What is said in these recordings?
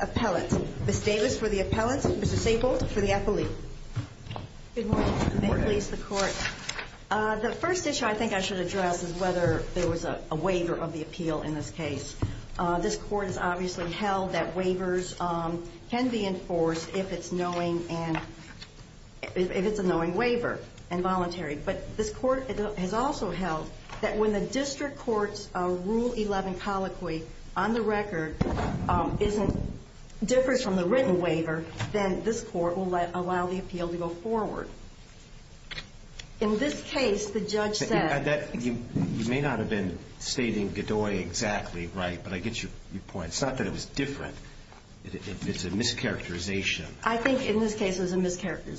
Appellant. Ms. Davis for the appellant, Mr. Staple for the appellee. Good morning. May it please the court. The first issue I think I should address is whether there was a waiver of the appeal in this case. This court has obviously held that waivers can be enforced if it's knowing and if it's a knowing waiver and voluntary. But this court has not has also held that when the district court's rule 11 colloquy on the record differs from the written waiver, then this court will allow the appeal to go forward. In this case, the judge said... You may not have been stating Godoy exactly right, but I get your point. It's not that it was different. It's a mischaracterization. I think in this case, the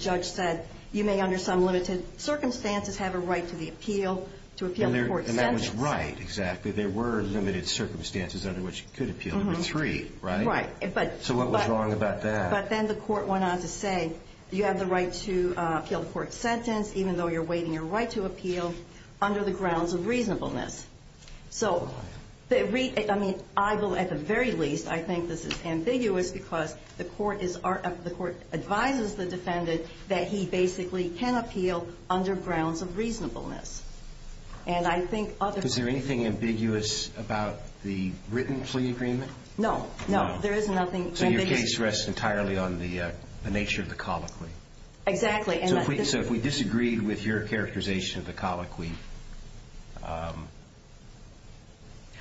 judge said you may under some limited circumstances have a right to the appeal to appeal the court's sentence. And that was right, exactly. There were limited circumstances under which you could appeal number three, right? Right. So what was wrong about that? But then the court went on to say you have the right to appeal the court's sentence even though you're waiving your right to appeal under the grounds of reasonableness. So I mean, I will at the very least, I think this is ambiguous because the court advises the defendant that he basically can appeal under grounds of reasonableness. And I think other... Is there anything ambiguous about the written plea agreement? No, no. There is nothing ambiguous. So your case rests entirely on the nature of the colloquy? Exactly. So if we disagreed with your characterization of the colloquy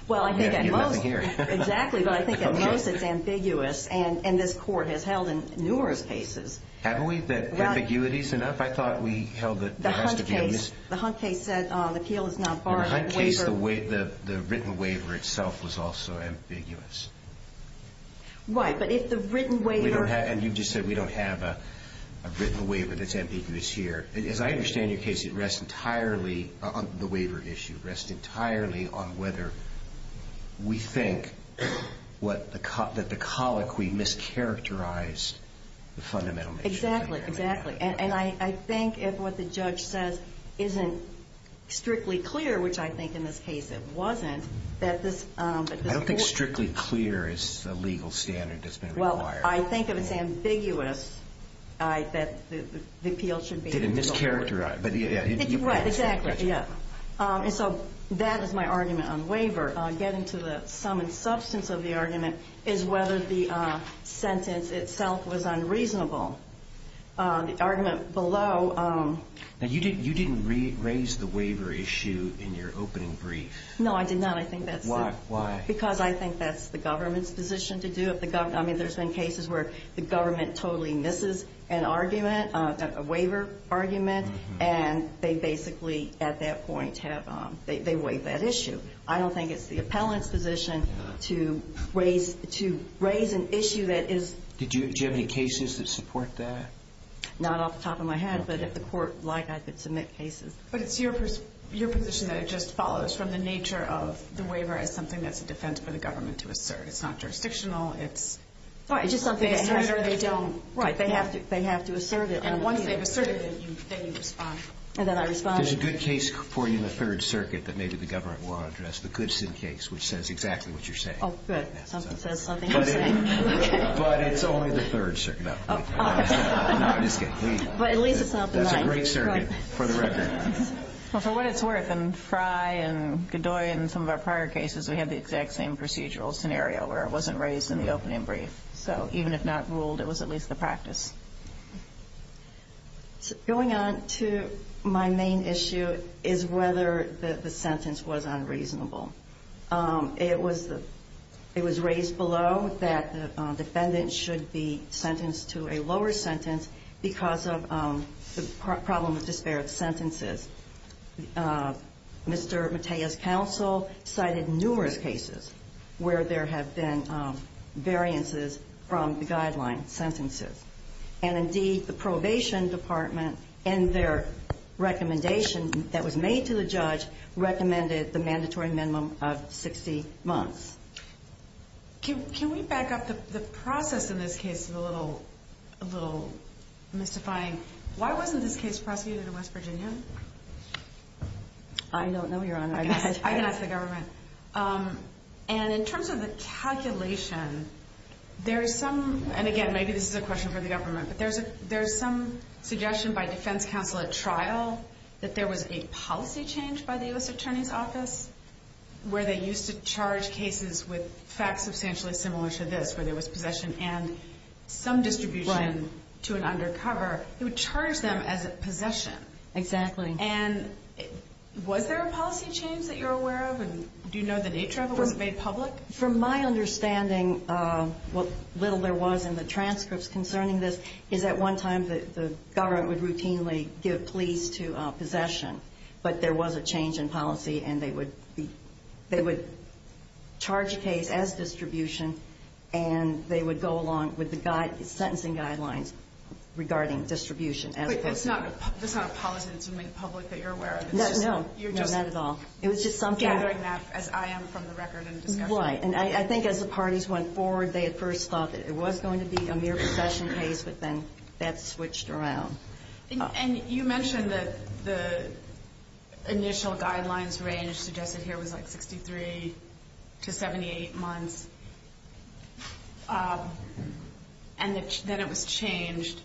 Well, I think at most... You have nothing here. Exactly. But I think at most it's ambiguous. And this court has held in numerous cases... Haven't we? That ambiguity's enough? I thought we held that... The Hunt case said the appeal is not part of the waiver. In the Hunt case, the written waiver itself was also ambiguous. Right. But if the written waiver... And you just said we don't have a I understand your case. It rests entirely on the waiver issue. It rests entirely on whether we think that the colloquy mischaracterized the fundamental nature of the waiver. Exactly. And I think if what the judge says isn't strictly clear, which I think in this case it wasn't, that this... I don't think strictly clear is the legal standard that's been required. I think if it's ambiguous, that the appeal should be... Did it mischaracterize? Right. Exactly. And so that is my argument on waiver. Getting to the sum and substance of the argument is whether the sentence itself was unreasonable. The argument below... You didn't raise the waiver issue in your opening brief. No, I did not. Why? Because I think that's the government's position to do it. There's been cases where the government totally misses an argument, a waiver argument, and they basically at that point have... They waive that issue. I don't think it's the appellant's position to raise an issue that is... Did you have any cases that support that? Not off the top of my head, but if the court has a position that it just follows from the nature of the waiver as something that's a defense for the government to assert. It's not jurisdictional. It's something that has to be asserted. Right. They have to assert it. And once they've asserted it, then you respond. And then I respond. There's a good case for you in the Third Circuit that maybe the government will address, the Goodson case, which says exactly what you're saying. Oh, good. Something says something you're saying. But it's only the Third Circuit. No. Well, for what it's worth, in Frye and Godoy and some of our prior cases, we had the exact same procedural scenario where it wasn't raised in the opening brief. So even if not ruled, it was at least the practice. Going on to my main issue is whether the sentence was unreasonable. It was raised below that the defendant should be sentenced to a lower sentence because of the problem of disparate sentences. Mr. Matea's counsel cited numerous cases where there have been variances from the guideline sentences. And indeed, the probation department, in their recommendation that was made to the judge, recommended the mandatory minimum sentence. And it was a minimum of 60 months. Can we back up? The process in this case is a little mystifying. Why wasn't this case prosecuted in West Virginia? I don't know, Your Honor. I can ask the government. And in terms of the calculation, there is some, and again, maybe this is a question for the government, but there is some suggestion by defense counsel at trial that there was a policy change by the U.S. Attorney's Office? Where they used to charge cases with facts substantially similar to this, where there was possession and some distribution to an undercover. It would charge them as possession. Was there a policy change that you're aware of? Do you know the nature of it when it was made public? From my understanding, little there was in the transcripts concerning this, is at one time the government would routinely give pleas to possession. But there was a change in policy, and they would charge a case as distribution, and they would go along with the sentencing guidelines regarding distribution. But that's not a policy that's made public that you're aware of? No, not at all. It was just something. Gathering that as I am from the record and discussion. Right, and I think as the parties went forward, they at first thought that it was going to be a mere possession case, but then that switched around. And you mentioned that the initial guidelines range suggested here was like 63 to 78 months, and that it was changed.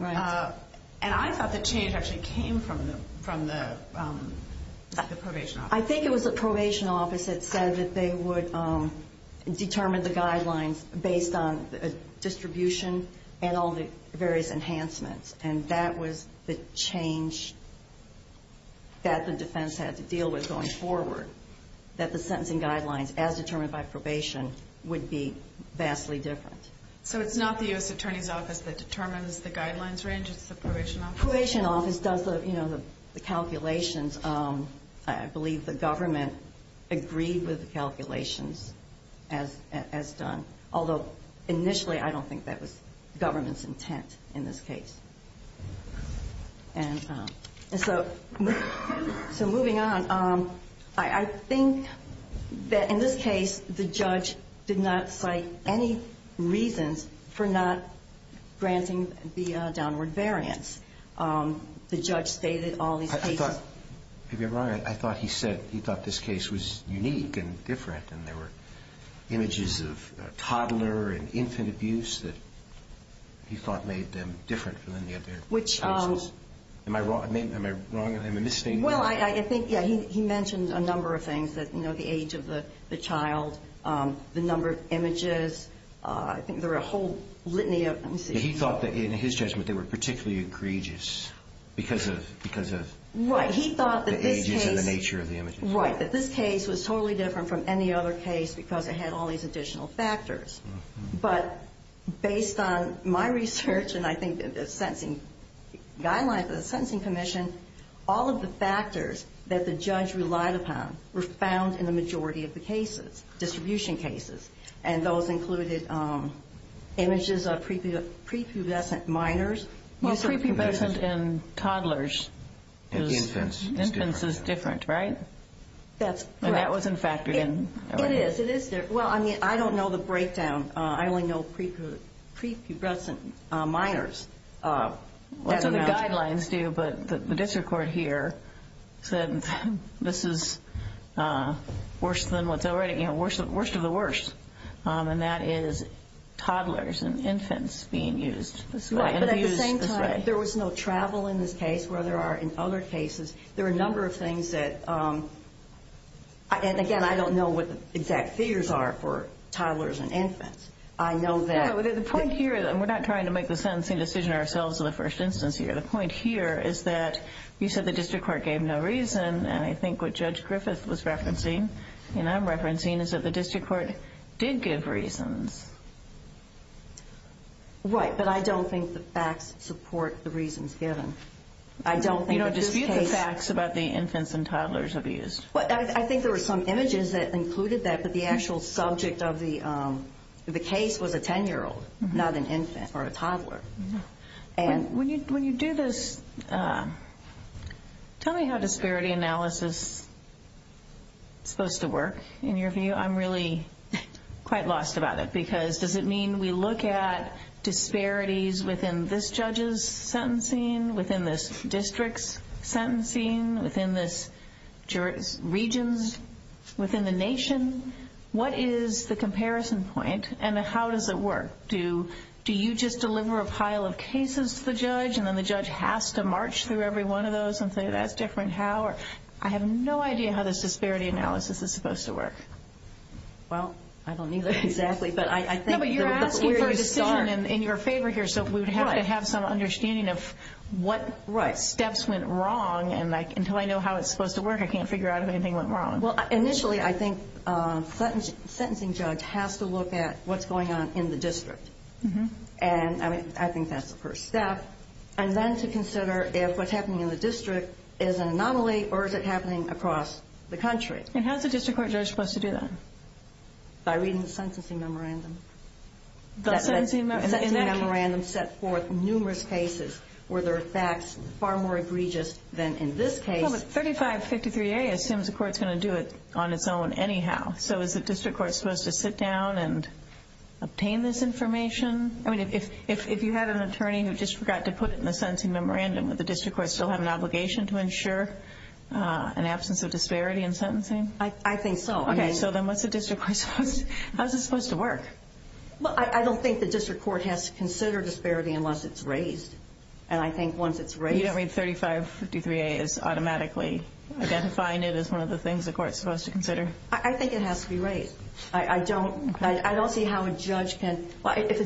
And I thought the change actually came from the probation office. I think it was the probation office that said that they would determine the guidelines based on distribution and all the various enhancements. And that was the change that the defense had to deal with going forward. That the sentencing guidelines, as determined by probation, would be vastly different. So it's not the U.S. Attorney's Office that determines the guidelines range? It's the probation office? The probation office does the calculations. I believe the government agreed with the calculations as done. Although, initially, I don't think that was government's intent in this case. So moving on, I think that in this case, the judge did not cite any reasons for not granting the downward variance. The judge stated all these cases. I thought he said he thought this case was unique and different. And there were images of toddler and infant abuse that he thought made them different from the other cases. Am I wrong? Am I wrong? Well, I think he mentioned a number of things, the age of the child, the number of images. I think there were a whole litany of them. He thought that in his judgment they were particularly egregious because of the ages and the nature of the images. Right, that this case was totally different from any other case because it had all these additional factors. But based on my research and I think the sentencing guidelines of the Sentencing Commission, all of the factors that the judge relied upon were found in the majority of the cases, distribution cases. And those included images of prepubescent minors. Well, prepubescent in toddlers. Infants is different, right? It is. It is. Well, I don't know the breakdown. I only know prepubescent minors. That's what the guidelines do. But the district court here said this is worse than what's already, you know, worst of the worst. And that is toddlers and infants being used. But at the same time, there was no travel in this case where there are in other cases. There are a number of things that, and again, I don't know what the exact figures are for toddlers and infants. The point here, and we're not trying to make the sentencing decision ourselves in the first instance here. The point here is that you said the district court gave no reason. And I think what Judge Griffith was referencing and I'm referencing is that the district court did give reasons. Right, but I don't think the facts support the reasons given. You don't dispute the facts about the infants and toddlers abused. Well, I think there were some images that included that. But the actual subject of the case was a 10-year-old, not an infant or a toddler. When you do this, tell me how disparity analysis is supposed to work in your view. I'm really quite lost about it because does it mean we look at disparities within this judge's sentencing, within this district's sentencing, within this region's, within the nation? What is the comparison point and how does it work? Do you just deliver a pile of cases to the judge and then the judge has to march through every one of those and say, that's different, how? I have no idea how this disparity analysis is supposed to work. Well, I don't either, exactly. No, but you're asking for a decision in your favor here, so we would have to have some understanding of what steps went wrong. And until I know how it's supposed to work, I can't figure out if anything went wrong. Well, initially, I think a sentencing judge has to look at what's going on in the district. And I think that's the first step. And then to consider if what's happening in the district is an anomaly or is it happening across the country. And how's the district court judge supposed to do that? By reading the sentencing memorandum. The sentencing memorandum set forth numerous cases where there are facts far more egregious than in this case. Well, but 3553A assumes the court's going to do it on its own anyhow, so is the district court supposed to sit down and obtain this information? I mean, if you had an attorney who just forgot to put it in the sentencing memorandum, would the district court still have an obligation to ensure an absence of disparity in sentencing? I think so. Okay, so then how's it supposed to work? Well, I don't think the district court has to consider disparity unless it's raised. And I think once it's raised... You don't mean 3553A is automatically identifying it as one of the things the court's supposed to consider? I think it has to be raised. I don't see how a judge can... Okay, so here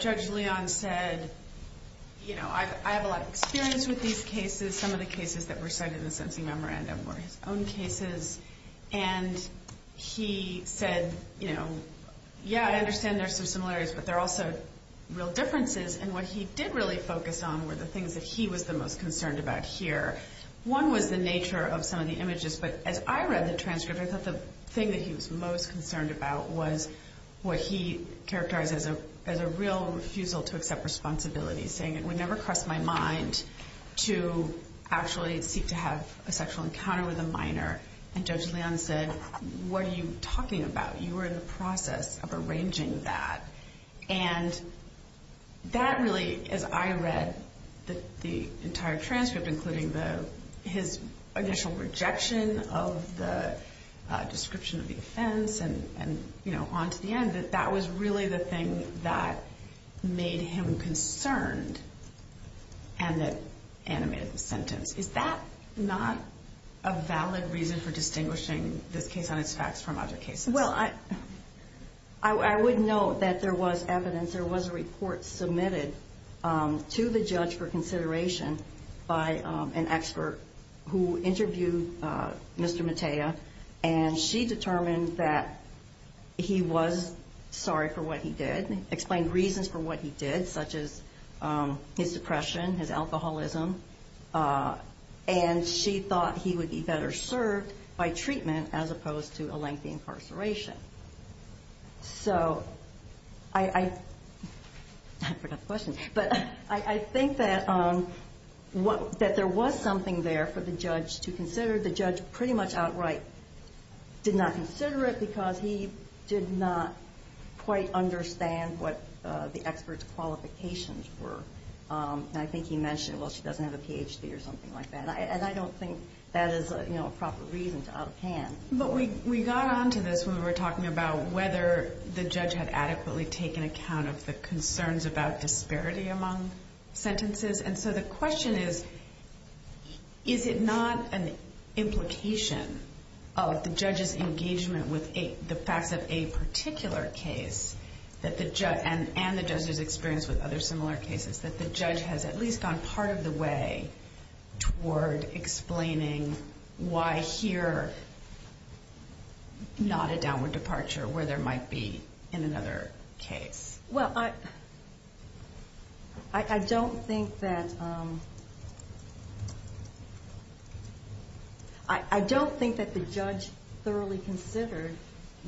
Judge Leon said, you know, I have a lot of experience with these cases. Some of the cases that were sent in the sentencing memorandum were his own cases. And he said, you know, yeah, I understand there's some similarities, but there are also real differences. And what he did really focus on were the things that he was the most concerned about here. One was the nature of some of the images. But as I read the transcript, I thought the thing that he was most concerned about was what he characterized as a real refusal to accept responsibility, saying it would never cross my mind to actually seek to have a sexual encounter with a minor. And Judge Leon said, what are you talking about? You were in the process of arranging that. And that really, as I read the entire transcript, including his initial rejection of the description of the offense and on to the end, that that was really the thing that made him concerned and that animated the sentence. Is that not a valid reason for distinguishing this case on its facts from other cases? Well, I would note that there was evidence. There was a report submitted to the judge for consideration by an expert who interviewed Mr. Matea. And she determined that he was sorry for what he did, explained reasons for what he did, such as his depression, his alcoholism. And she thought he would be better served by treatment as opposed to a lengthy incarceration. I've heard enough questions. But I think that there was something there for the judge to consider. The judge pretty much outright did not consider it because he did not quite understand what the expert's qualifications were. And I think he mentioned, well, she doesn't have a Ph.D. or something like that. And I don't think that is a proper reason to out of hand. But we got on to this when we were talking about whether the judge had adequately taken account of the concerns about disparity among sentences. And so the question is, is it not an implication of the judge's engagement with the facts of a particular case and the judge's experience with other similar cases that the judge has at least gone part of the way toward explaining why here not a downward departure where there might be in another case? Well, I don't think that I don't think that the judge thoroughly considered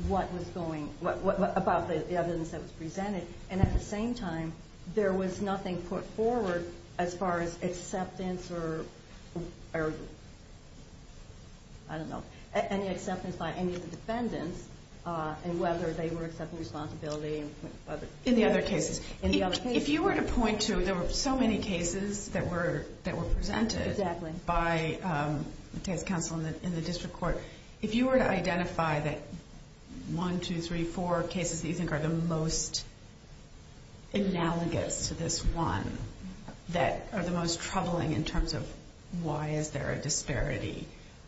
what was going, about the evidence that was presented. And at the same time, there was nothing put forward as far as acceptance or, I don't know, any acceptance by any of the defendants and whether they were accepting responsibility. In the other cases. If you were to point to, there were so many cases that were presented by the case counsel in the district court. If you were to identify that one, two, three, four cases that you think are the most analogous to this one that are the most troubling in terms of why is there a disparity,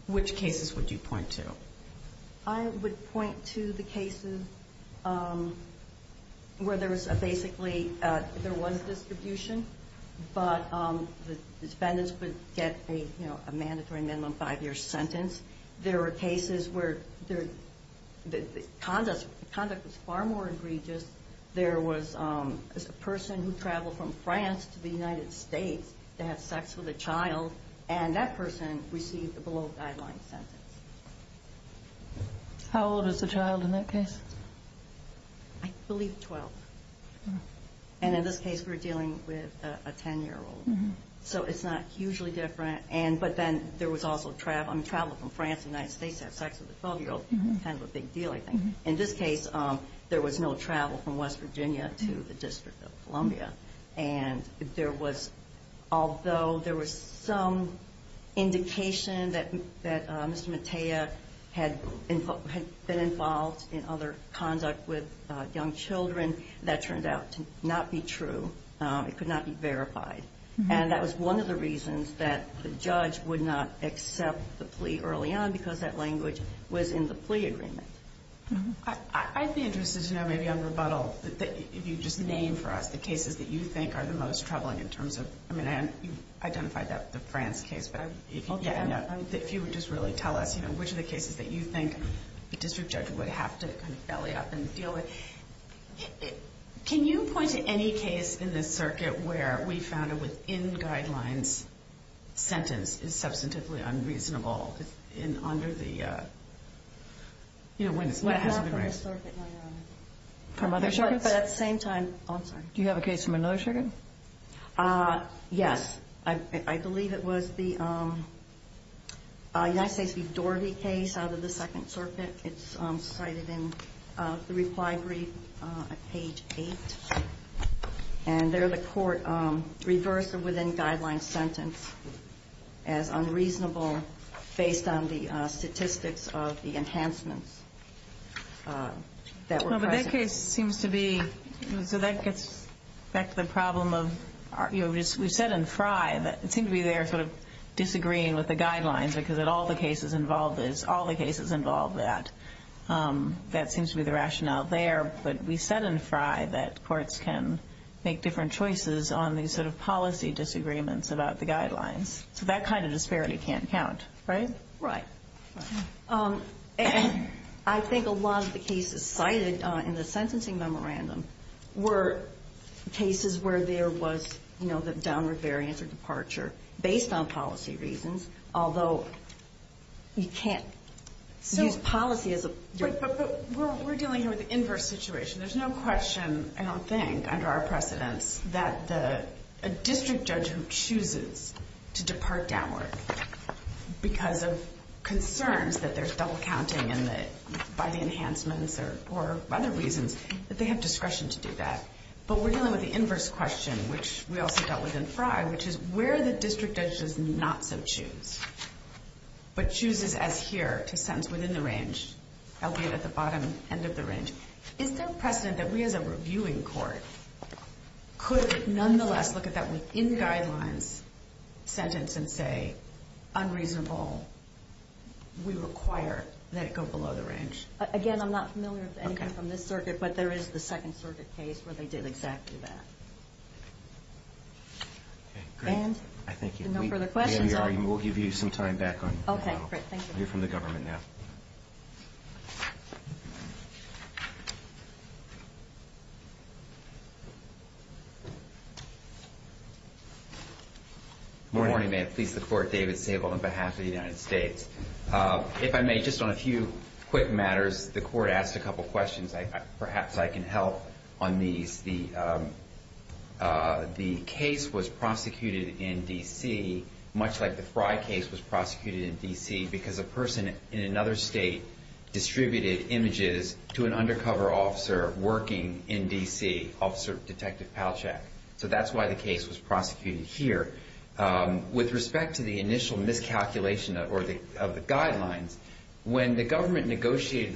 which cases would you point to? I would point to the cases where there was basically there was distribution, but the defendants would get a mandatory minimum five-year sentence. There were cases where the conduct was far more egregious. There was a person who traveled from France to the United States to have sex with a child. And that person received a below-guideline sentence. How old is the child in that case? I believe twelve. And in this case, we're dealing with a ten-year-old. So it's not hugely different. But then there was also travel from France to the United States to have sex with a twelve-year-old. Kind of a big deal, I think. In this case, there was no travel from West Virginia to the District of Columbia. And there was, although there was some indication that Mr. Matea had been involved in other conduct with young children, that turned out to not be true. It could not be verified. And that was one of the reasons that the judge would not accept the plea early on, because that language was in the plea agreement. I'd be interested to know, maybe on rebuttal, if you just name for us the cases that you think are the most troubling in terms of, I mean, you identified the France case, but if you would just really tell us which of the cases that you think the district judge would have to kind of belly up and deal with. Can you point to any case in this circuit where we found a within guidelines sentence is substantively unreasonable under the... Do you have a case from another circuit? Yes. I believe it was the United States v. Page 8. And there the court reversed a within guidelines sentence as unreasonable based on the statistics of the enhancements that were present. But that case seems to be, so that gets back to the problem of, you know, we've said in Frye that it seemed to be there sort of disagreeing with the guidelines, because in all the cases involved is, all the cases involved that, that seems to be the rationale there. But we said in Frye that courts can make different choices on these sort of policy disagreements about the guidelines. So that kind of disparity can't count, right? Right. And I think a lot of the cases cited in the sentencing memorandum were cases where there was, you know, the you can't use policy as a... But we're dealing here with the inverse situation. There's no question, I don't think, under our precedence, that the district judge who chooses to depart downward because of concerns that there's double counting and that by the enhancements or other reasons that they have discretion to do that. But we're dealing with the inverse question, which we also dealt with in Frye, which is where the district judge does not so choose, but chooses as here to sentence within the range, albeit at the bottom end of the range. Is there precedent that we as a reviewing court could nonetheless look at that within guidelines sentence and say, unreasonable, we require that it go below the range? Again, I'm not familiar with anything from this circuit, but there is the Second Circuit case where they did exactly that. And no further questions. We'll give you some time back on the panel. You're from the government now. Good morning. May it please the court, David Sable on behalf of the United States. If I may, just on a few quick matters, the court asked a couple questions. Perhaps I can help on these. The case was prosecuted in D.C., much like the Frye case was prosecuted in D.C. because a person in another state distributed images to an undercover officer working in D.C., Officer Detective Palchak. So that's why the case was prosecuted in D.C. The case was prosecuted in D.C. because a person in another state distributed images to an undercover officer working in D.C. And so the relevant conduct under the guidelines must be all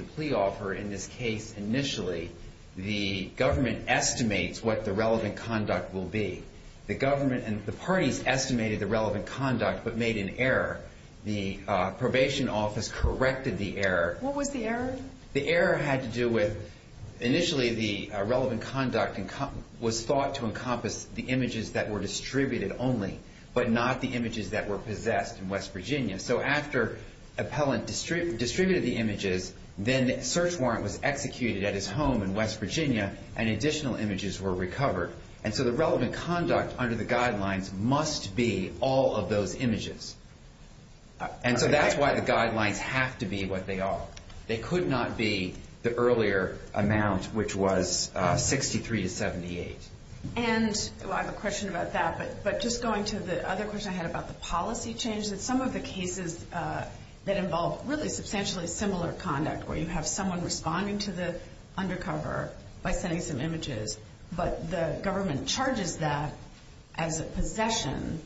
of those images. And so that's why the guidelines have to be what they are. They could not be the earlier amount, which was 63 to 78. And I have a question about that, but just going to the other question I had about the policy change, that some of the cases in D.C. that involve really substantially similar conduct, where you have someone responding to the undercover by sending some images, but the government charges that as a possession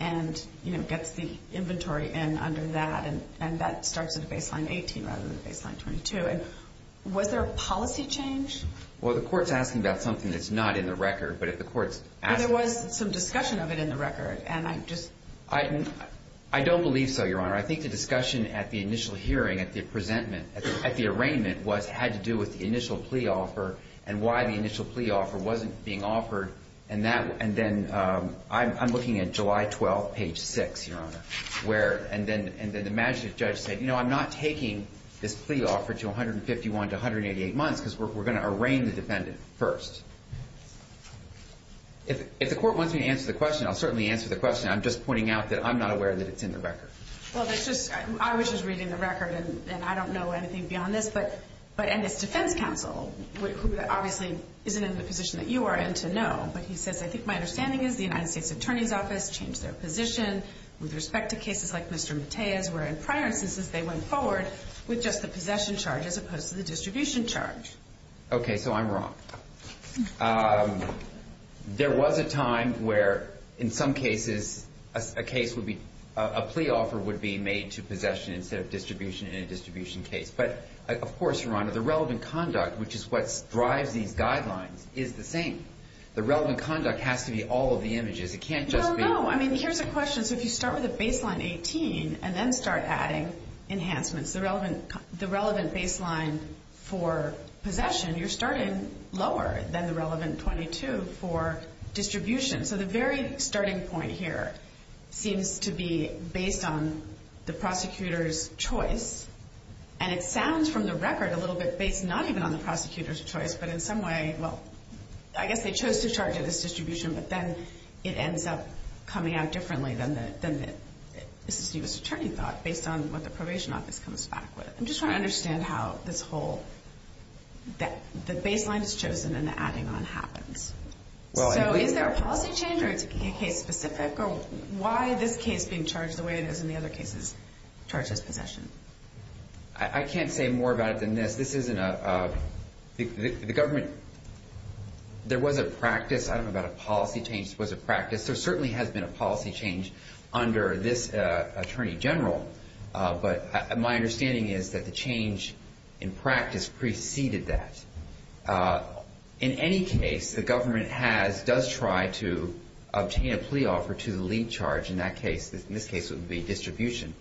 and gets the inventory in under that, and that starts at a baseline 18 rather than a baseline 22. Was there a policy change? Well, the court's asking about something that's not in the record, but if the court's asking about something that's not in the record. I don't believe so, Your Honor. I think the discussion at the initial hearing, at the arraignment, had to do with the initial plea offer and why the initial plea offer wasn't being offered. And then I'm looking at July 12, page 6, Your Honor. And then the magistrate judge said, you know, I'm not taking this plea offer to 151 to If the court wants me to answer the question, I'll certainly answer the question. I'm just pointing out that I'm not aware that it's in the record. Well, I was just reading the record, and I don't know anything beyond this. And this defense counsel, who obviously isn't in the position that you are in to know, but he says, I think my understanding is the United States Attorney's Office changed their position with respect to cases like Mr. Matea's, where in prior instances they went forward with just the possession charge as opposed to the distribution charge. Okay, so I'm wrong. There was a time where in some cases a case would be, a plea offer would be made to possession instead of distribution in a distribution case. But of course, Your Honor, the relevant conduct, which is what drives these guidelines, is the same. The relevant conduct has to be all of the images. It can't just be. No, no. I mean, here's a question. So if you start with a baseline 18 and then start adding enhancements, the relevant baseline for possession, you're starting lower than the relevant 22 for distribution. So the very starting point here seems to be based on the prosecutor's choice. And it sounds from the record a little bit based not even on the prosecutor's choice, but in some way, well, I guess they chose to charge it as distribution, but then it ends up coming out differently than the assistant U.S. attorney thought based on what the probation office comes back with. I'm just trying to understand how this whole, the baseline is chosen and the adding on happens. So is there a policy change or is it case specific? Or why this case being charged the way it is in the other cases charges possession? I can't say more about it than this. This isn't a, the government, there was a practice. I don't know about a policy change. There was a practice. There certainly has been a policy change under this attorney general. But my understanding is that the change in practice preceded that. In any case, the government has, does try to obtain a plea offer to the lead charge. In that case, in this case, it would be distribution.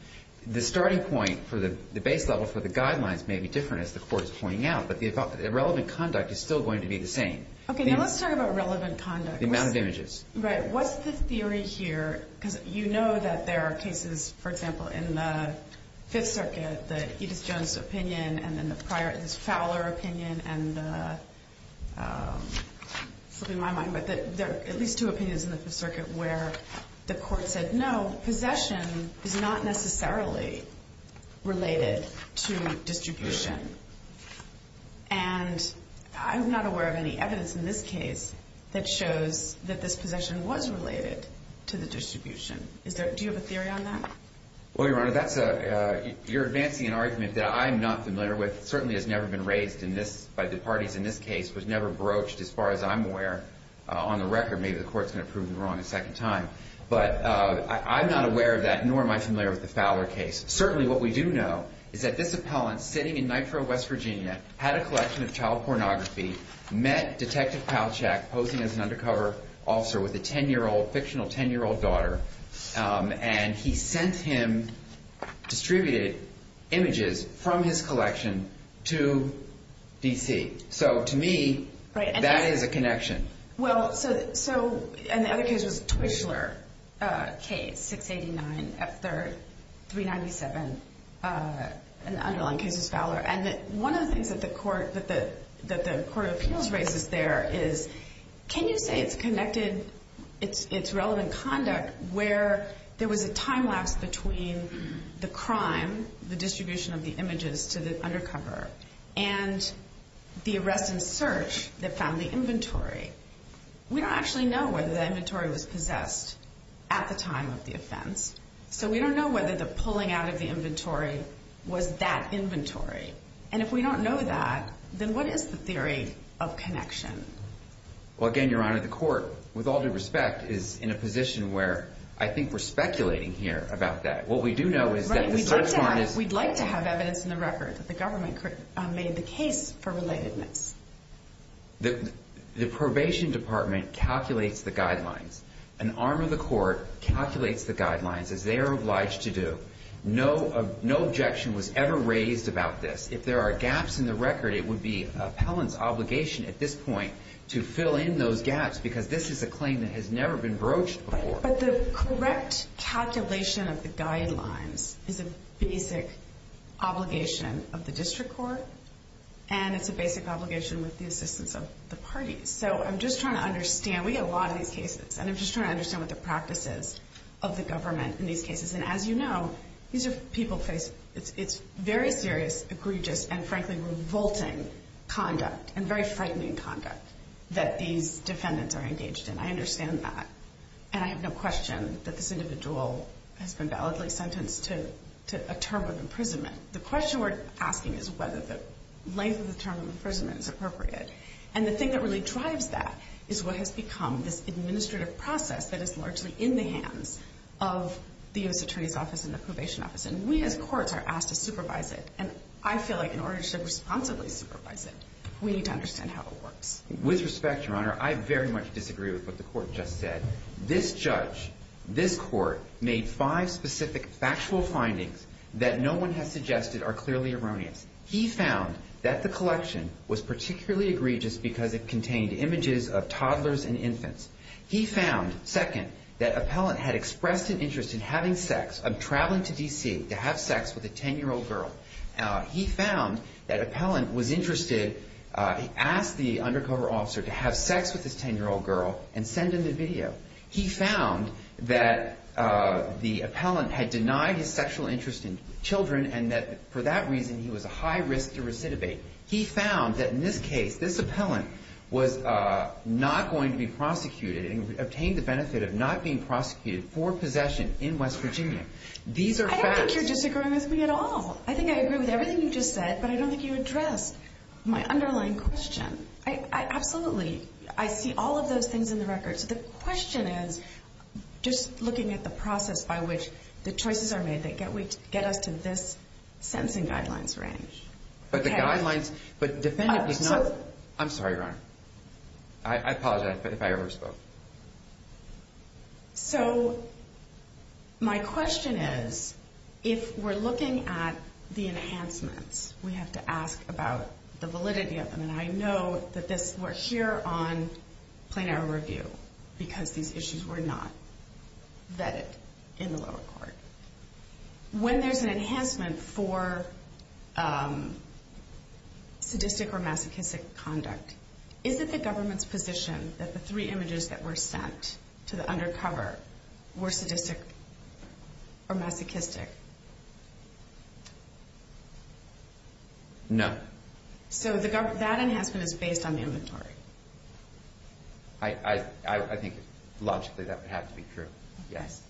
The starting point for the base level for the guidelines may be different as the court's pointing out, but the relevant conduct is still going to be the same. Okay, now let's talk about relevant conduct. The amount of images. Right. What's the theory here? Because you know that there are cases, for example, in the Fifth Circuit that Edith Jones' opinion and then the prior, this Fowler opinion and, this will be my mind, but there are at least two opinions in the Fifth Circuit where the court said, no, possession is not necessarily related to distribution. And I'm not aware of any evidence in this case that shows that this possession was related to the distribution. Is there, do you have a theory on that? Well, Your Honor, that's a, you're advancing an argument that I'm not familiar with. Certainly has never been raised in this, by the parties in this case, was never broached as far as I'm aware on the record. Maybe the court's going to prove me wrong a second time, but I'm not aware of that, nor am I familiar with the Fowler case. Certainly what we do know is that this appellant sitting in Nitro, West Virginia had a collection of child pornography, met Detective Palchak posing as an undercover officer with a 10-year-old, fictional 10-year-old daughter, and he sent him distributed images from his collection to D.C. So, to me, that is a connection. Well, so, and the other case was Twishler case, 689 F3rd 397, and the underlying case is Fowler. And one of the things that the court, that the Court of Appeals raises there is, can you say it's connected, it's relevant conduct, where there was a time lapse between the crime, the distribution of the images to the undercover, and the arrest and search that found the inventory. We don't actually know whether that inventory was possessed at the time of the offense, so we don't know whether the pulling out of the inventory was that inventory. And if we don't know that, then what is the theory of connection? Well, again, Your Honor, the court, with all due respect, is in a position where I think we're speculating here about that. What we do know is that the search warrant is... Right, we'd like to have evidence in the record that the government made the case for relatedness. The probation department calculates the guidelines. An arm of the court calculates the guidelines as they are obliged to do. No objection was ever raised about this. If there are gaps in the record, it would be an appellant's obligation at this point to fill in those gaps, because this is a claim that has never been broached before. But the correct calculation of the guidelines is a basic obligation of the district court, and it's a basic obligation with the assistance of the parties. So I'm just trying to understand. We get a lot of these cases, and as you know, it's very serious, egregious, and frankly revolting conduct and very frightening conduct that these defendants are engaged in. I understand that, and I have no question that this individual has been validly sentenced to a term of imprisonment. The question we're asking is whether the length of the term of imprisonment is appropriate. And the thing that really drives that is what has become this administrative process that is largely in the hands of the U.S. Attorney's Office and the Probation Office. And we as courts are asked to supervise it, and I feel like in order to responsibly supervise it, we need to understand how it works. With respect, Your Honor, I very much disagree with what the court just said. This judge, this court, made five specific factual findings that no one has suggested are clearly erroneous. He found that the collection was particularly egregious because it contained images of toddlers and infants. He found, second, that Appellant had expressed an interest in having sex, of traveling to D.C. to have sex with a 10-year-old girl. He found that Appellant was interested, asked the undercover officer to have sex with this 10-year-old girl and send him the video. He found that the Appellant had denied his sexual interest in children and that for that reason he was a high risk to recidivate. He found that in this case, this Appellant was not going to be prosecuted and obtained the benefit of not being prosecuted for possession in West Virginia. I don't think you're disagreeing with me at all. I think I agree with everything you just said, but I don't think you addressed my underlying question. I absolutely, I see all of those things in the record. So the question is, just looking at the process by which the choices are made that get us to this sentencing guidelines range. I'm sorry, Your Honor. I apologize if I overspoke. So, my question is, if we're looking at the enhancements, we have to ask about the validity of them, and I know that we're here on plain error review because these issues were not vetted in the lower court. When there's an enhancement for sadistic or masochistic conduct, is it the government's position that the three images that were sent to the undercover were sadistic or masochistic? No. So that enhancement is based on inventory. I think logically that would have to be true, yes.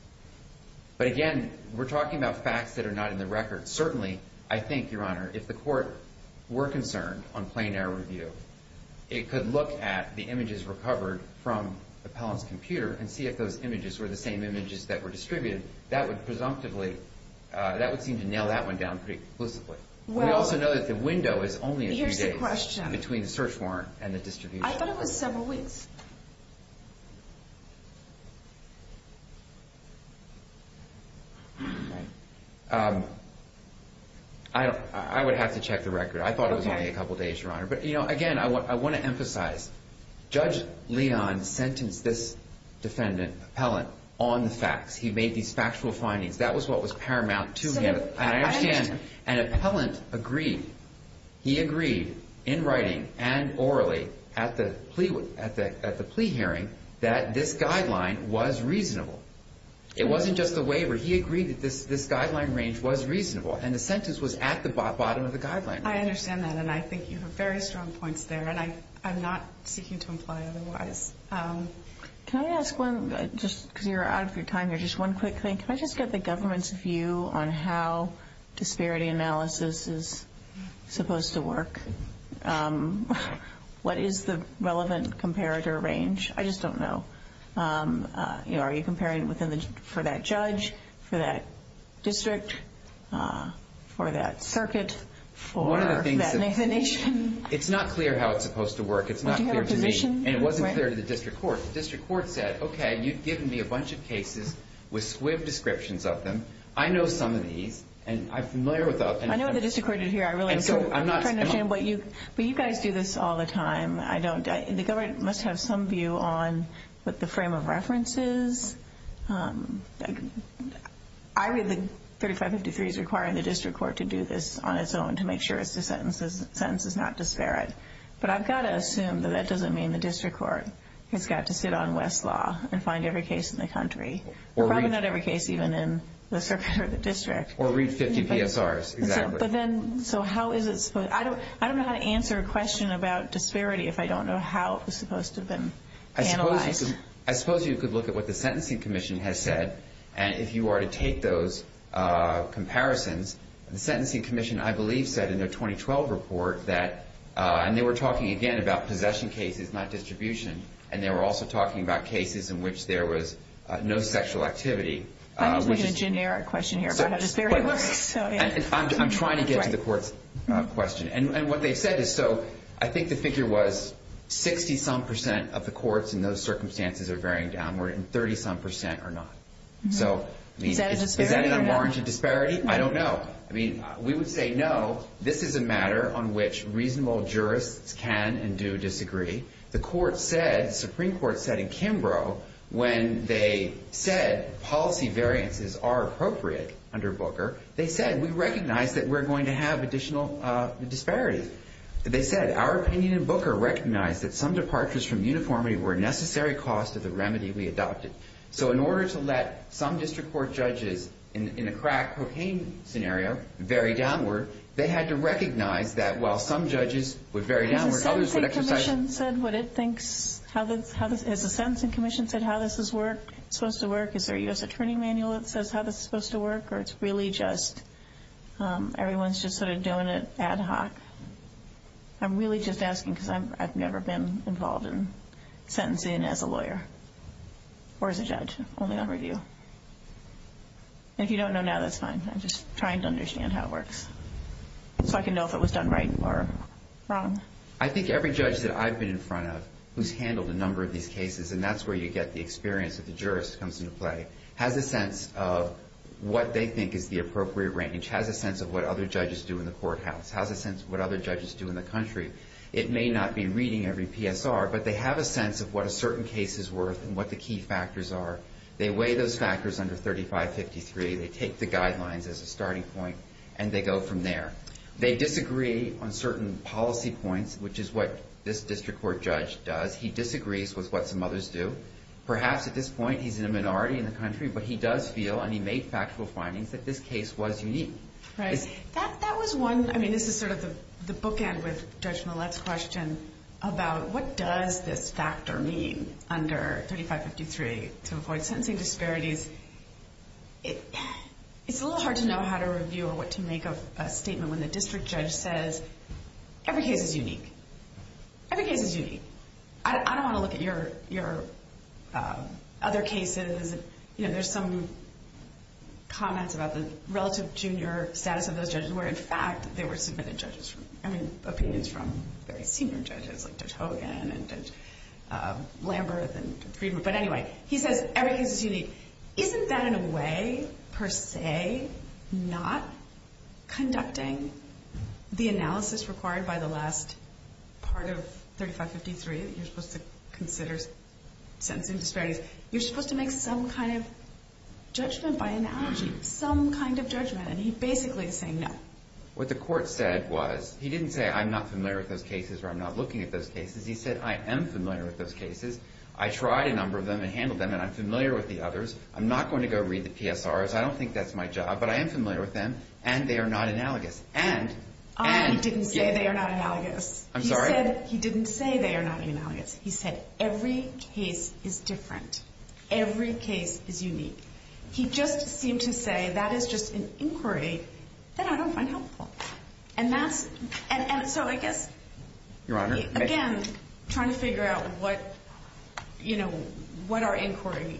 But again, we're talking about facts that are not in the record. Certainly, I think, Your Honor, if the court were concerned on plain error review, it could look at the images recovered from the investigation, and that would seem to nail that one down pretty explicitly. We also know that the window is only a few days between the search warrant and the distribution. I thought it was several weeks. I would have to check the record. I thought it was only a couple days, Your Honor. But again, I want to emphasize, Judge Leon sentenced this defendant, appellant, on the facts. He made these factual findings. That was what was paramount to him. An appellant agreed. He agreed in writing and orally at the plea hearing that this guideline was reasonable. It wasn't just the waiver. He agreed that this guideline range was reasonable, and the sentence was at the bottom of the guideline range. I understand that, and I think you have very strong points there, and I'm not seeking to imply otherwise. Can I ask one, just because you're out of your time here, just one quick thing. Can I just get the government's view on how disparity analysis is supposed to work? What is the relevant comparator range? I just don't know. Are you comparing for that judge, for that district, for that circuit, for that nation? It's not clear how it's supposed to work. It's not clear to me, and it wasn't clear to the district court. The district court said, okay, you've given me a bunch of cases with squib descriptions of them. I know some of these, and I'm familiar with them. But you guys do this all the time. The government must have some view on the frame of references. I read the 3553 as requiring the district court to do this on its own, to make sure the sentence is not disparate. But I've got to assume that that doesn't mean the district court has got to sit on Westlaw and find every case in the country. Probably not every case even in the circuit or the district. Or read 50 PSRs. I don't know how to answer a question about disparity if I don't know how it was supposed to have been analyzed. I suppose you could look at what the Sentencing Commission has said, and if you were to take those comparisons, the Sentencing Commission, I believe, said in their 2012 report that, and they were talking again about possession cases, not distribution, and they were also talking about cases in which there was no sexual activity. I'm looking at a generic question here about how disparity works. I'm trying to get to the court's question. I think the figure was 60-some percent of the courts in those circumstances are varying downward and 30-some percent are not. Is that a disparity or not? I don't know. I mean, we would say no, this is a matter on which reasonable jurists can and do disagree. The Supreme Court said in Kimbrough when they said policy variances are appropriate under Booker, they said we recognize that we're going to have additional disparities. They said our opinion in Booker recognized that some departures from uniformity were a necessary cost of the remedy we adopted. So in order to let some district court judges in a crack cocaine scenario vary downward, they had to recognize that while some judges would vary downward, others would exercise... Has the Sentencing Commission said how this is supposed to work? Is there a U.S. Attorney manual that says how this is supposed to work, or it's really just everyone's just sort of doing it ad hoc? I'm really just asking because I've never been involved in sentencing as a lawyer. Or as a judge, only on review. And if you don't know now, that's fine. I'm just trying to understand how it works so I can know if it was done right or wrong. I think every judge that I've been in front of who's handled a number of these cases, and that's where you get the experience of the jurist comes into play, has a sense of what they think is the appropriate range, has a sense of what other judges do in the courthouse, has a sense of what other judges do in the country. It may not be reading every PSR, but they have a sense of what a certain case is worth and what the key factors are. They weigh those factors under 3553, they take the guidelines as a starting point, and they go from there. They disagree on certain policy points, which is what this district court judge does. He disagrees with what some others do. Perhaps at this point he's in a minority in the country, but he does feel, and he made factual findings, that this case was unique. This is sort of the bookend with Judge Millett's question about what does this factor mean under 3553 to avoid sentencing disparities. It's a little hard to know how to review or what to make of a statement when the district judge says, every case is unique. I don't want to look at your other cases. There's some comments about the relative junior status of those judges where, in fact, they were submitted opinions from very senior judges like Judge Hogan and Judge Lamberth. Isn't that, in a way, per se, not conducting the analysis required by the last part of 3553 that you're supposed to consider sentencing disparities? You're supposed to make some kind of judgment by analogy, some kind of judgment, and he basically is saying no. What the court said was he didn't say I'm not familiar with those cases or I'm not looking at those cases. He said I am familiar with those cases. I tried a number of them and handled them, and I'm familiar with the others. I'm not going to go read the PSRs. I don't think that's my job, but I am familiar with them, and they are not analogous. He didn't say they are not analogous. He said every case is different. Every case is unique. He just seemed to say that is just an inquiry that I don't find helpful. Your Honor? Again, trying to figure out what our inquiry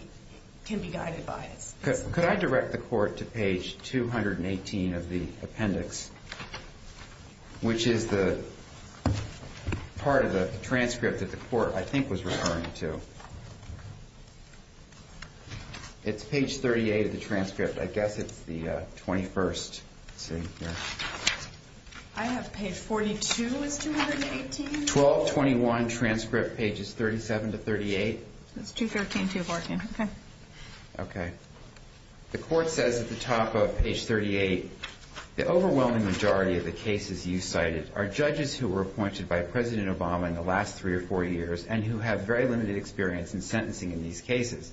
can be guided by. Could I direct the court to page 218 of the appendix, which is the part of the transcript that the court, I think, was referring to? It's page 38 of the transcript. I guess it's the 21st. I have page 42. It's 218. 1221, transcript, pages 37 to 38. It's 213, 214. Okay. The court says at the top of page 38, the overwhelming majority of the cases you cited are judges who were appointed by President Obama in the last three or four years and who have very limited experience in sentencing in these cases.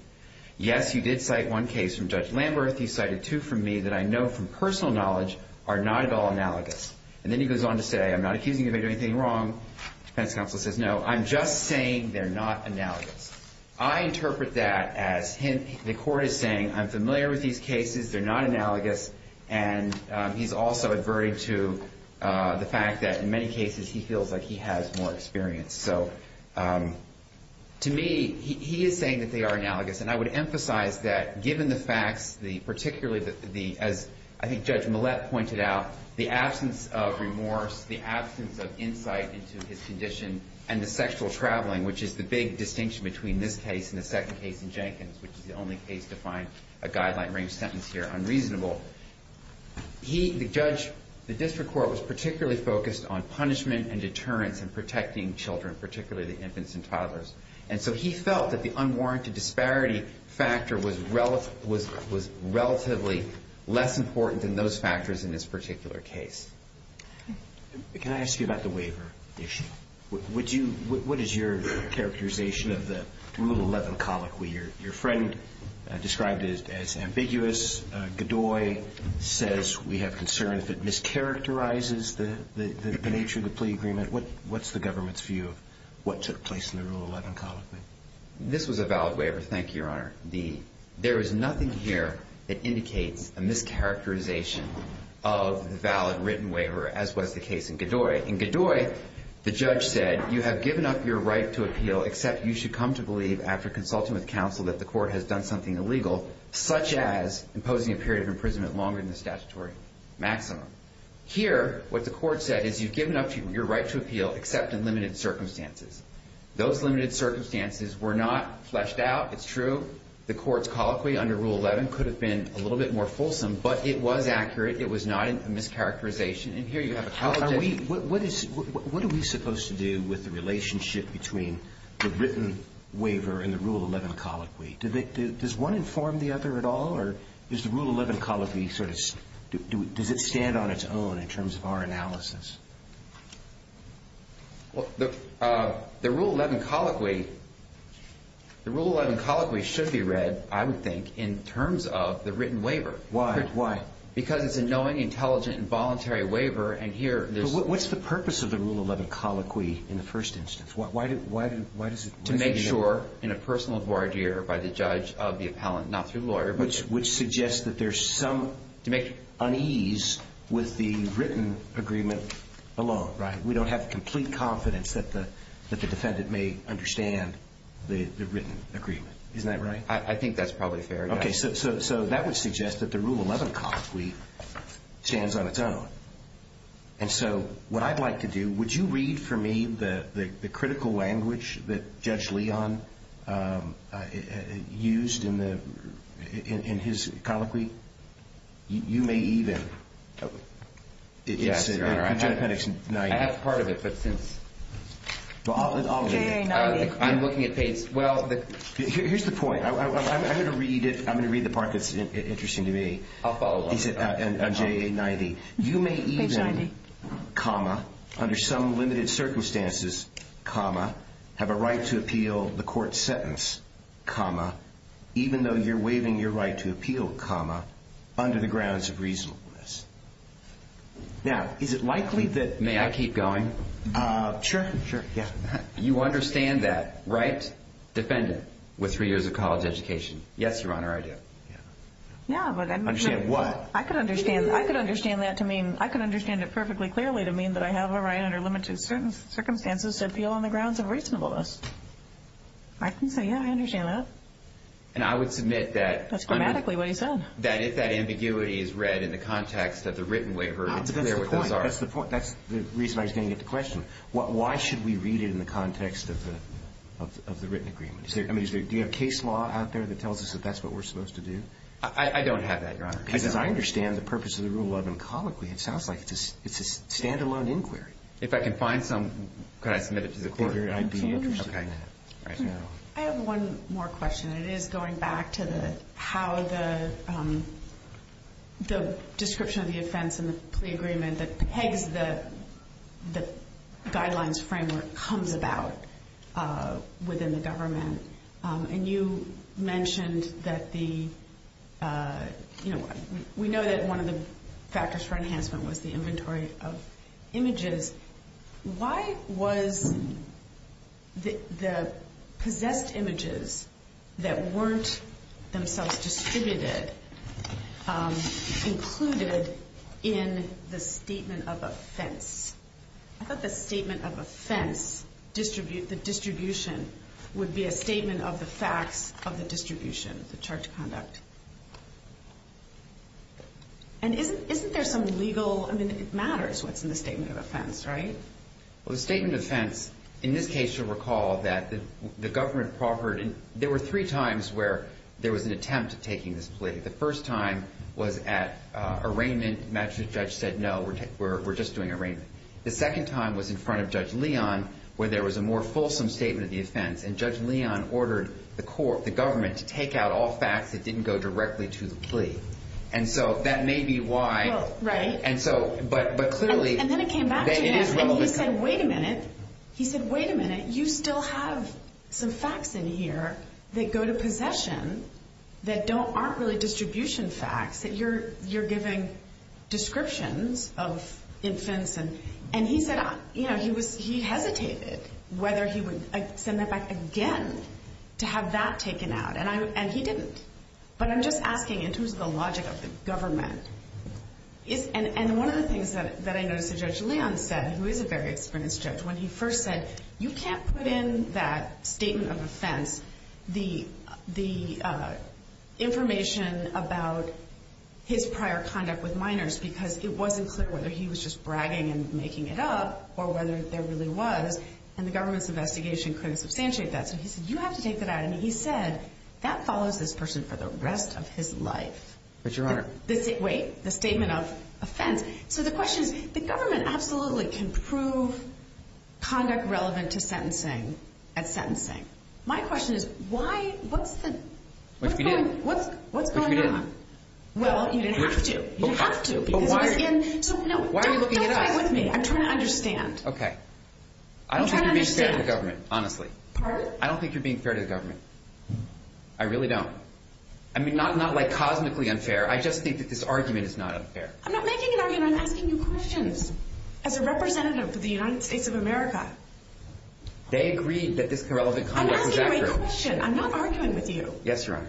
Yes, you did cite one case from Judge Lamberth. You cited two from me that I know from personal knowledge are not at all analogous. And then he goes on to say, I'm not accusing you of anything wrong. The defense counsel says, no, I'm just saying they're not analogous. I interpret that as the court is saying I'm familiar with these cases. They're not analogous. And he's also adverting to the fact that in many cases he feels like he has more experience. So to me, he is saying that they are analogous. And I would emphasize that given the facts, particularly as I think Judge Millett pointed out, the absence of remorse, the absence of insight into his condition, and the sexual traveling, which is the big distinction between this case and the second case in Jenkins, which is the only case to find a guideline-range sentence here unreasonable, he, the judge, the district court was particularly focused on punishment and deterrence in protecting children, particularly the infants and toddlers. And so he felt that the unwarranted disparity factor was relatively less important than those factors in this particular case. Can I ask you about the waiver issue? What is your characterization of the Rule 11 colloquy? Your friend described it as ambiguous. Godoy says we have concern if it mischaracterizes the nature of the plea agreement. What's the government's view of what took place in the Rule 11 colloquy? This was a valid waiver, thank you, Your Honor. There is nothing here that indicates a mischaracterization of the valid written waiver, as was the case in Godoy. In Godoy, the judge said you have given up your right to appeal except you should come to believe after consulting with counsel that the court has done something illegal, such as imposing a period of imprisonment longer than the statutory maximum. Here, what the court said is you've given up your right to appeal except in limited circumstances. Those limited circumstances were not fleshed out. It's true. The court's colloquy under Rule 11 could have been a little bit more fulsome, but it was accurate. It was not a mischaracterization. What are we supposed to do with the relationship between the written waiver and the Rule 11 colloquy? Does one inform the other at all, or does the Rule 11 colloquy stand on its own in terms of our analysis? The Rule 11 colloquy should be read, I would think, in terms of the written waiver. Why? Because it's a knowing, intelligent, and voluntary waiver. What's the purpose of the Rule 11 colloquy in the first instance? To make sure in a personal voir dire by the judge of the appellant, not through the lawyer. Which suggests that there's some unease with the written agreement alone. We don't have complete confidence that the defendant may understand the written agreement. Isn't that right? I think that's probably fair. That would suggest that the Rule 11 colloquy stands on its own. Would you read for me the critical language that Judge Leon used in his colloquy? You may even. I have part of it. Here's the point. I'm going to read the part that's interesting to me. I'll follow up. You may even, under some limited circumstances, have a right to appeal the court's sentence, even though you're waiving your right to appeal, under the grounds of reasonableness. Now, is it likely that... You understand that, right? Defendant with three years of college education. Yes, Your Honor, I do. Understand what? I could understand it perfectly clearly to mean that I have a right, under limited circumstances, to appeal on the grounds of reasonableness. I can say, yeah, I understand that. That's grammatically what he said. That's the point. That's the reason I was going to get the question. Why should we read it in the context of the written agreement? Do you have case law out there that tells us that that's what we're supposed to do? I don't have that, Your Honor. Could I submit it to the court? I have one more question. And it is going back to how the description of the offense and the plea agreement that pegs the guidelines framework comes about within the government. And you mentioned that the... We know that one of the factors for enhancement was the inventory of images. Why was the possessed images that weren't themselves distributed included in the statement of offense? I thought the statement of offense, the distribution, would be a statement of the facts of the distribution, the charge of conduct. And isn't there some legal... I mean, it matters what's in the statement of offense, right? Well, the statement of offense, in this case, you'll recall that the government proffered... There were three times where there was an attempt at taking this plea. The first time was at arraignment. The magistrate judge said, no, we're just doing arraignment. The second time was in front of Judge Leon where there was a more fulsome statement of the offense. And Judge Leon ordered the government to take out all facts that didn't go directly to the plea. And so that may be why... And then it came back to him and he said, wait a minute. You still have some facts in here that go to possession that aren't really distribution facts that you're giving descriptions of offense. And he said he hesitated whether he would send that back again to have that taken out. And he didn't. But I'm just asking in terms of the logic of the government. And one of the things that I noticed that Judge Leon said, who is a very experienced judge, when he first said, you can't put in that statement of offense the information about his prior conduct with minors because it wasn't clear whether he was just bragging and making it up or whether there really was. And the government's investigation couldn't substantiate that. So he said, you have to take that out. And he said, that follows this person for the rest of his life. Wait, the statement of offense. So the question is, the government absolutely can prove conduct relevant to sentencing at sentencing. My question is, what's going on? Well, you didn't have to. I'm trying to understand. I don't think you're being fair to the government, honestly. Pardon? I don't think you're being fair to the government. I really don't. I mean, not like cosmically unfair. I just think that this argument is not unfair. I'm not making an argument. I'm asking you questions. As a representative for the United States of America. They agreed that this irrelevant conduct was accurate. I'm asking you a question. I'm not arguing with you. Yes, Your Honor.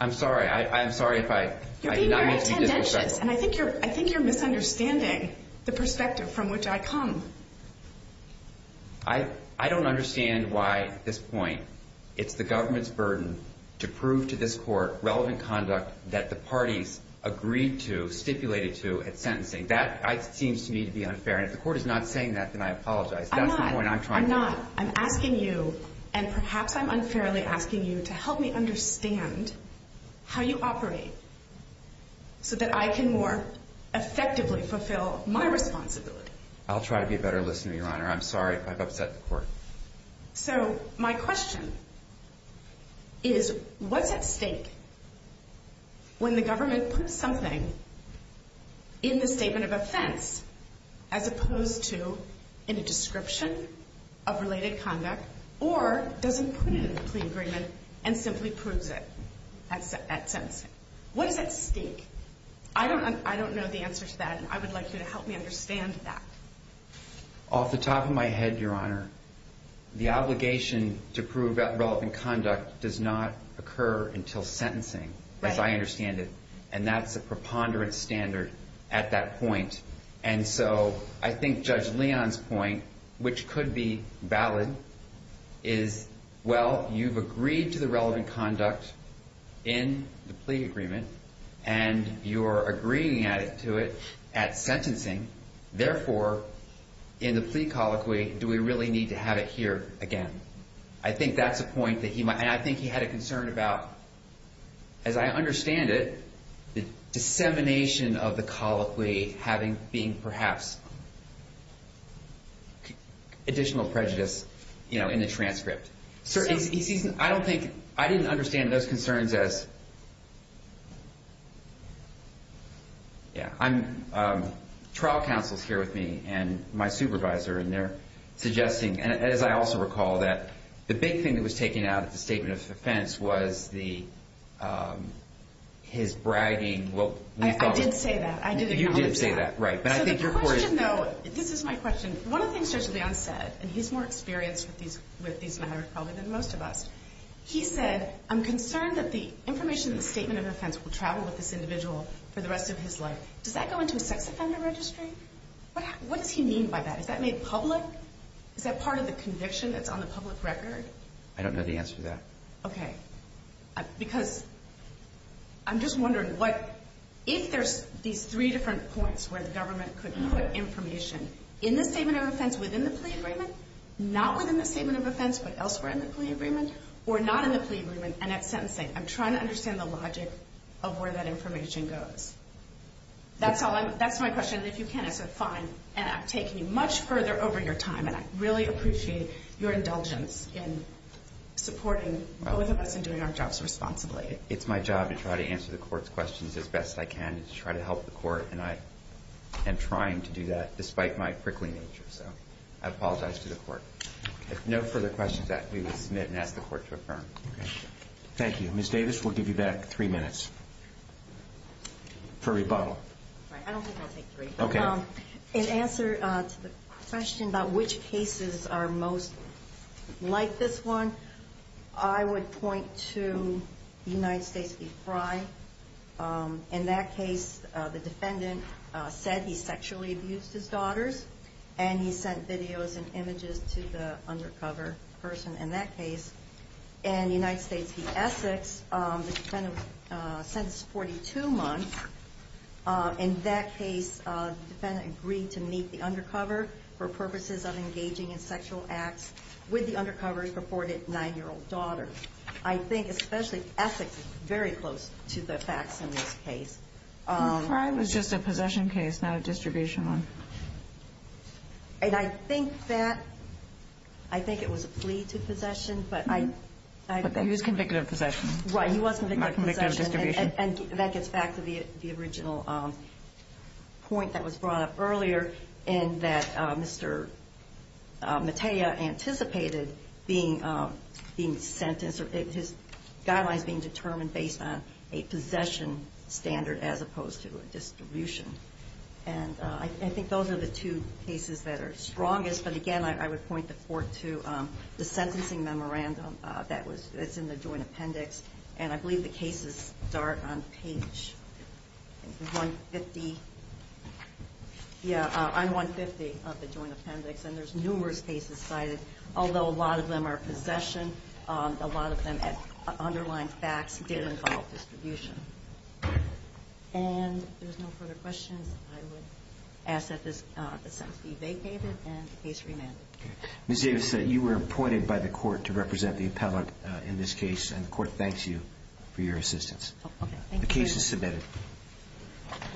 I'm sorry. I'm sorry if I did not make you disrespectful. And I think you're misunderstanding the perspective from which I come. I don't understand why, at this point, it's the government's burden to prove to this court relevant conduct that the parties agreed to, stipulated to, at sentencing. That seems to me to be unfair. And if the court is not saying that, then I apologize. I'm not. I'm asking you, and perhaps I'm unfairly asking you, to help me understand how you operate so that I can more effectively fulfill my responsibility. I'll try to be a better listener, Your Honor. I'm sorry if I've upset the court. So, my question is, what's at stake when the government puts something in the statement of offense, as opposed to in a description of related conduct, or doesn't put it in a clean agreement and simply proves it at sentencing? What is at stake? I don't know the answer to that, and I would like you to help me understand that. Off the top of my head, Your Honor, the obligation to prove relevant conduct does not occur until sentencing, as I understand it. And that's a preponderance standard at that point. And so, I think Judge Leon's point, which could be valid, is, well, you've agreed to the relevant conduct in the plea agreement, and you're agreeing to it at sentencing. Therefore, in the plea colloquy, do we really need to have it here again? I think that's a point that he might, and I think he had a concern about, as I understand it, the dissemination of the colloquy having, being perhaps additional prejudice in the transcript. I don't think, I didn't understand those concerns as, yeah, I'm, trial counsel's here with me, and my supervisor, and they're suggesting, and as I also recall, that the big thing that was taken out of the statement of offense was the, his bragging, well, I did say that. I did acknowledge that. You did say that, right. So the question, though, this is my question. One of the things Judge Leon said, and he's more experienced with these matters, probably, than most of us. He said, I'm concerned that the information in the statement of offense will travel with this individual for the rest of his life. Does that go into a sex offender registry? What does he mean by that? Is that made public? Is that part of the conviction that's on the public record? I don't know the answer to that. Okay. Because I'm just wondering what, if there's these three different points where the government could put information in the statement of offense within the plea agreement, not within the statement of offense, but elsewhere in the plea agreement, or not in the plea agreement, and at sentencing. I'm trying to answer that question. And if you can, I said, fine. And I'm taking you much further over your time. And I really appreciate your indulgence in supporting both of us in doing our jobs responsibly. It's my job to try to answer the Court's questions as best I can and to try to help the Court. And I am trying to do that, despite my prickly nature. So I apologize to the Court. If no further questions, we will submit and ask the Court to affirm. Thank you. Ms. Davis, we'll take three. Okay. In answer to the question about which cases are most like this one, I would point to United States v. Frye. In that case, the defendant said he sexually abused his daughters. And he sent videos and images to the undercover person in that case. And United States v. Essex, the defendant sentenced 42 months. In that case, the defendant agreed to meet the undercover for purposes of engaging in sexual acts with the undercover's reported 9-year-old daughter. I think especially Essex is very close to the facts in this case. And Frye was just a possession case, not a distribution one. And I think that I think it was a plea to possession, but I But he was convicted of possession. Right. He was convicted of possession. Not convicted of distribution. And that gets back to the original point that was brought up earlier in that Mr. Matea anticipated being sentenced or his guidelines being determined based on a possession standard as opposed to a distribution. And I think those are the two cases that are strongest. But again, I would point the court to the sentencing memorandum that was in the joint appendix. And I believe the cases start on page 150 of the joint appendix. And there's numerous cases cited. Although a lot of them are possession, a lot of them underline facts that involve distribution. And if there's no further questions, I would ask that this sentence be vacated and the case remanded. Ms. Davis, you were appointed by the court to represent the appellate in this case. And the court thanks you for your assistance. The case is submitted.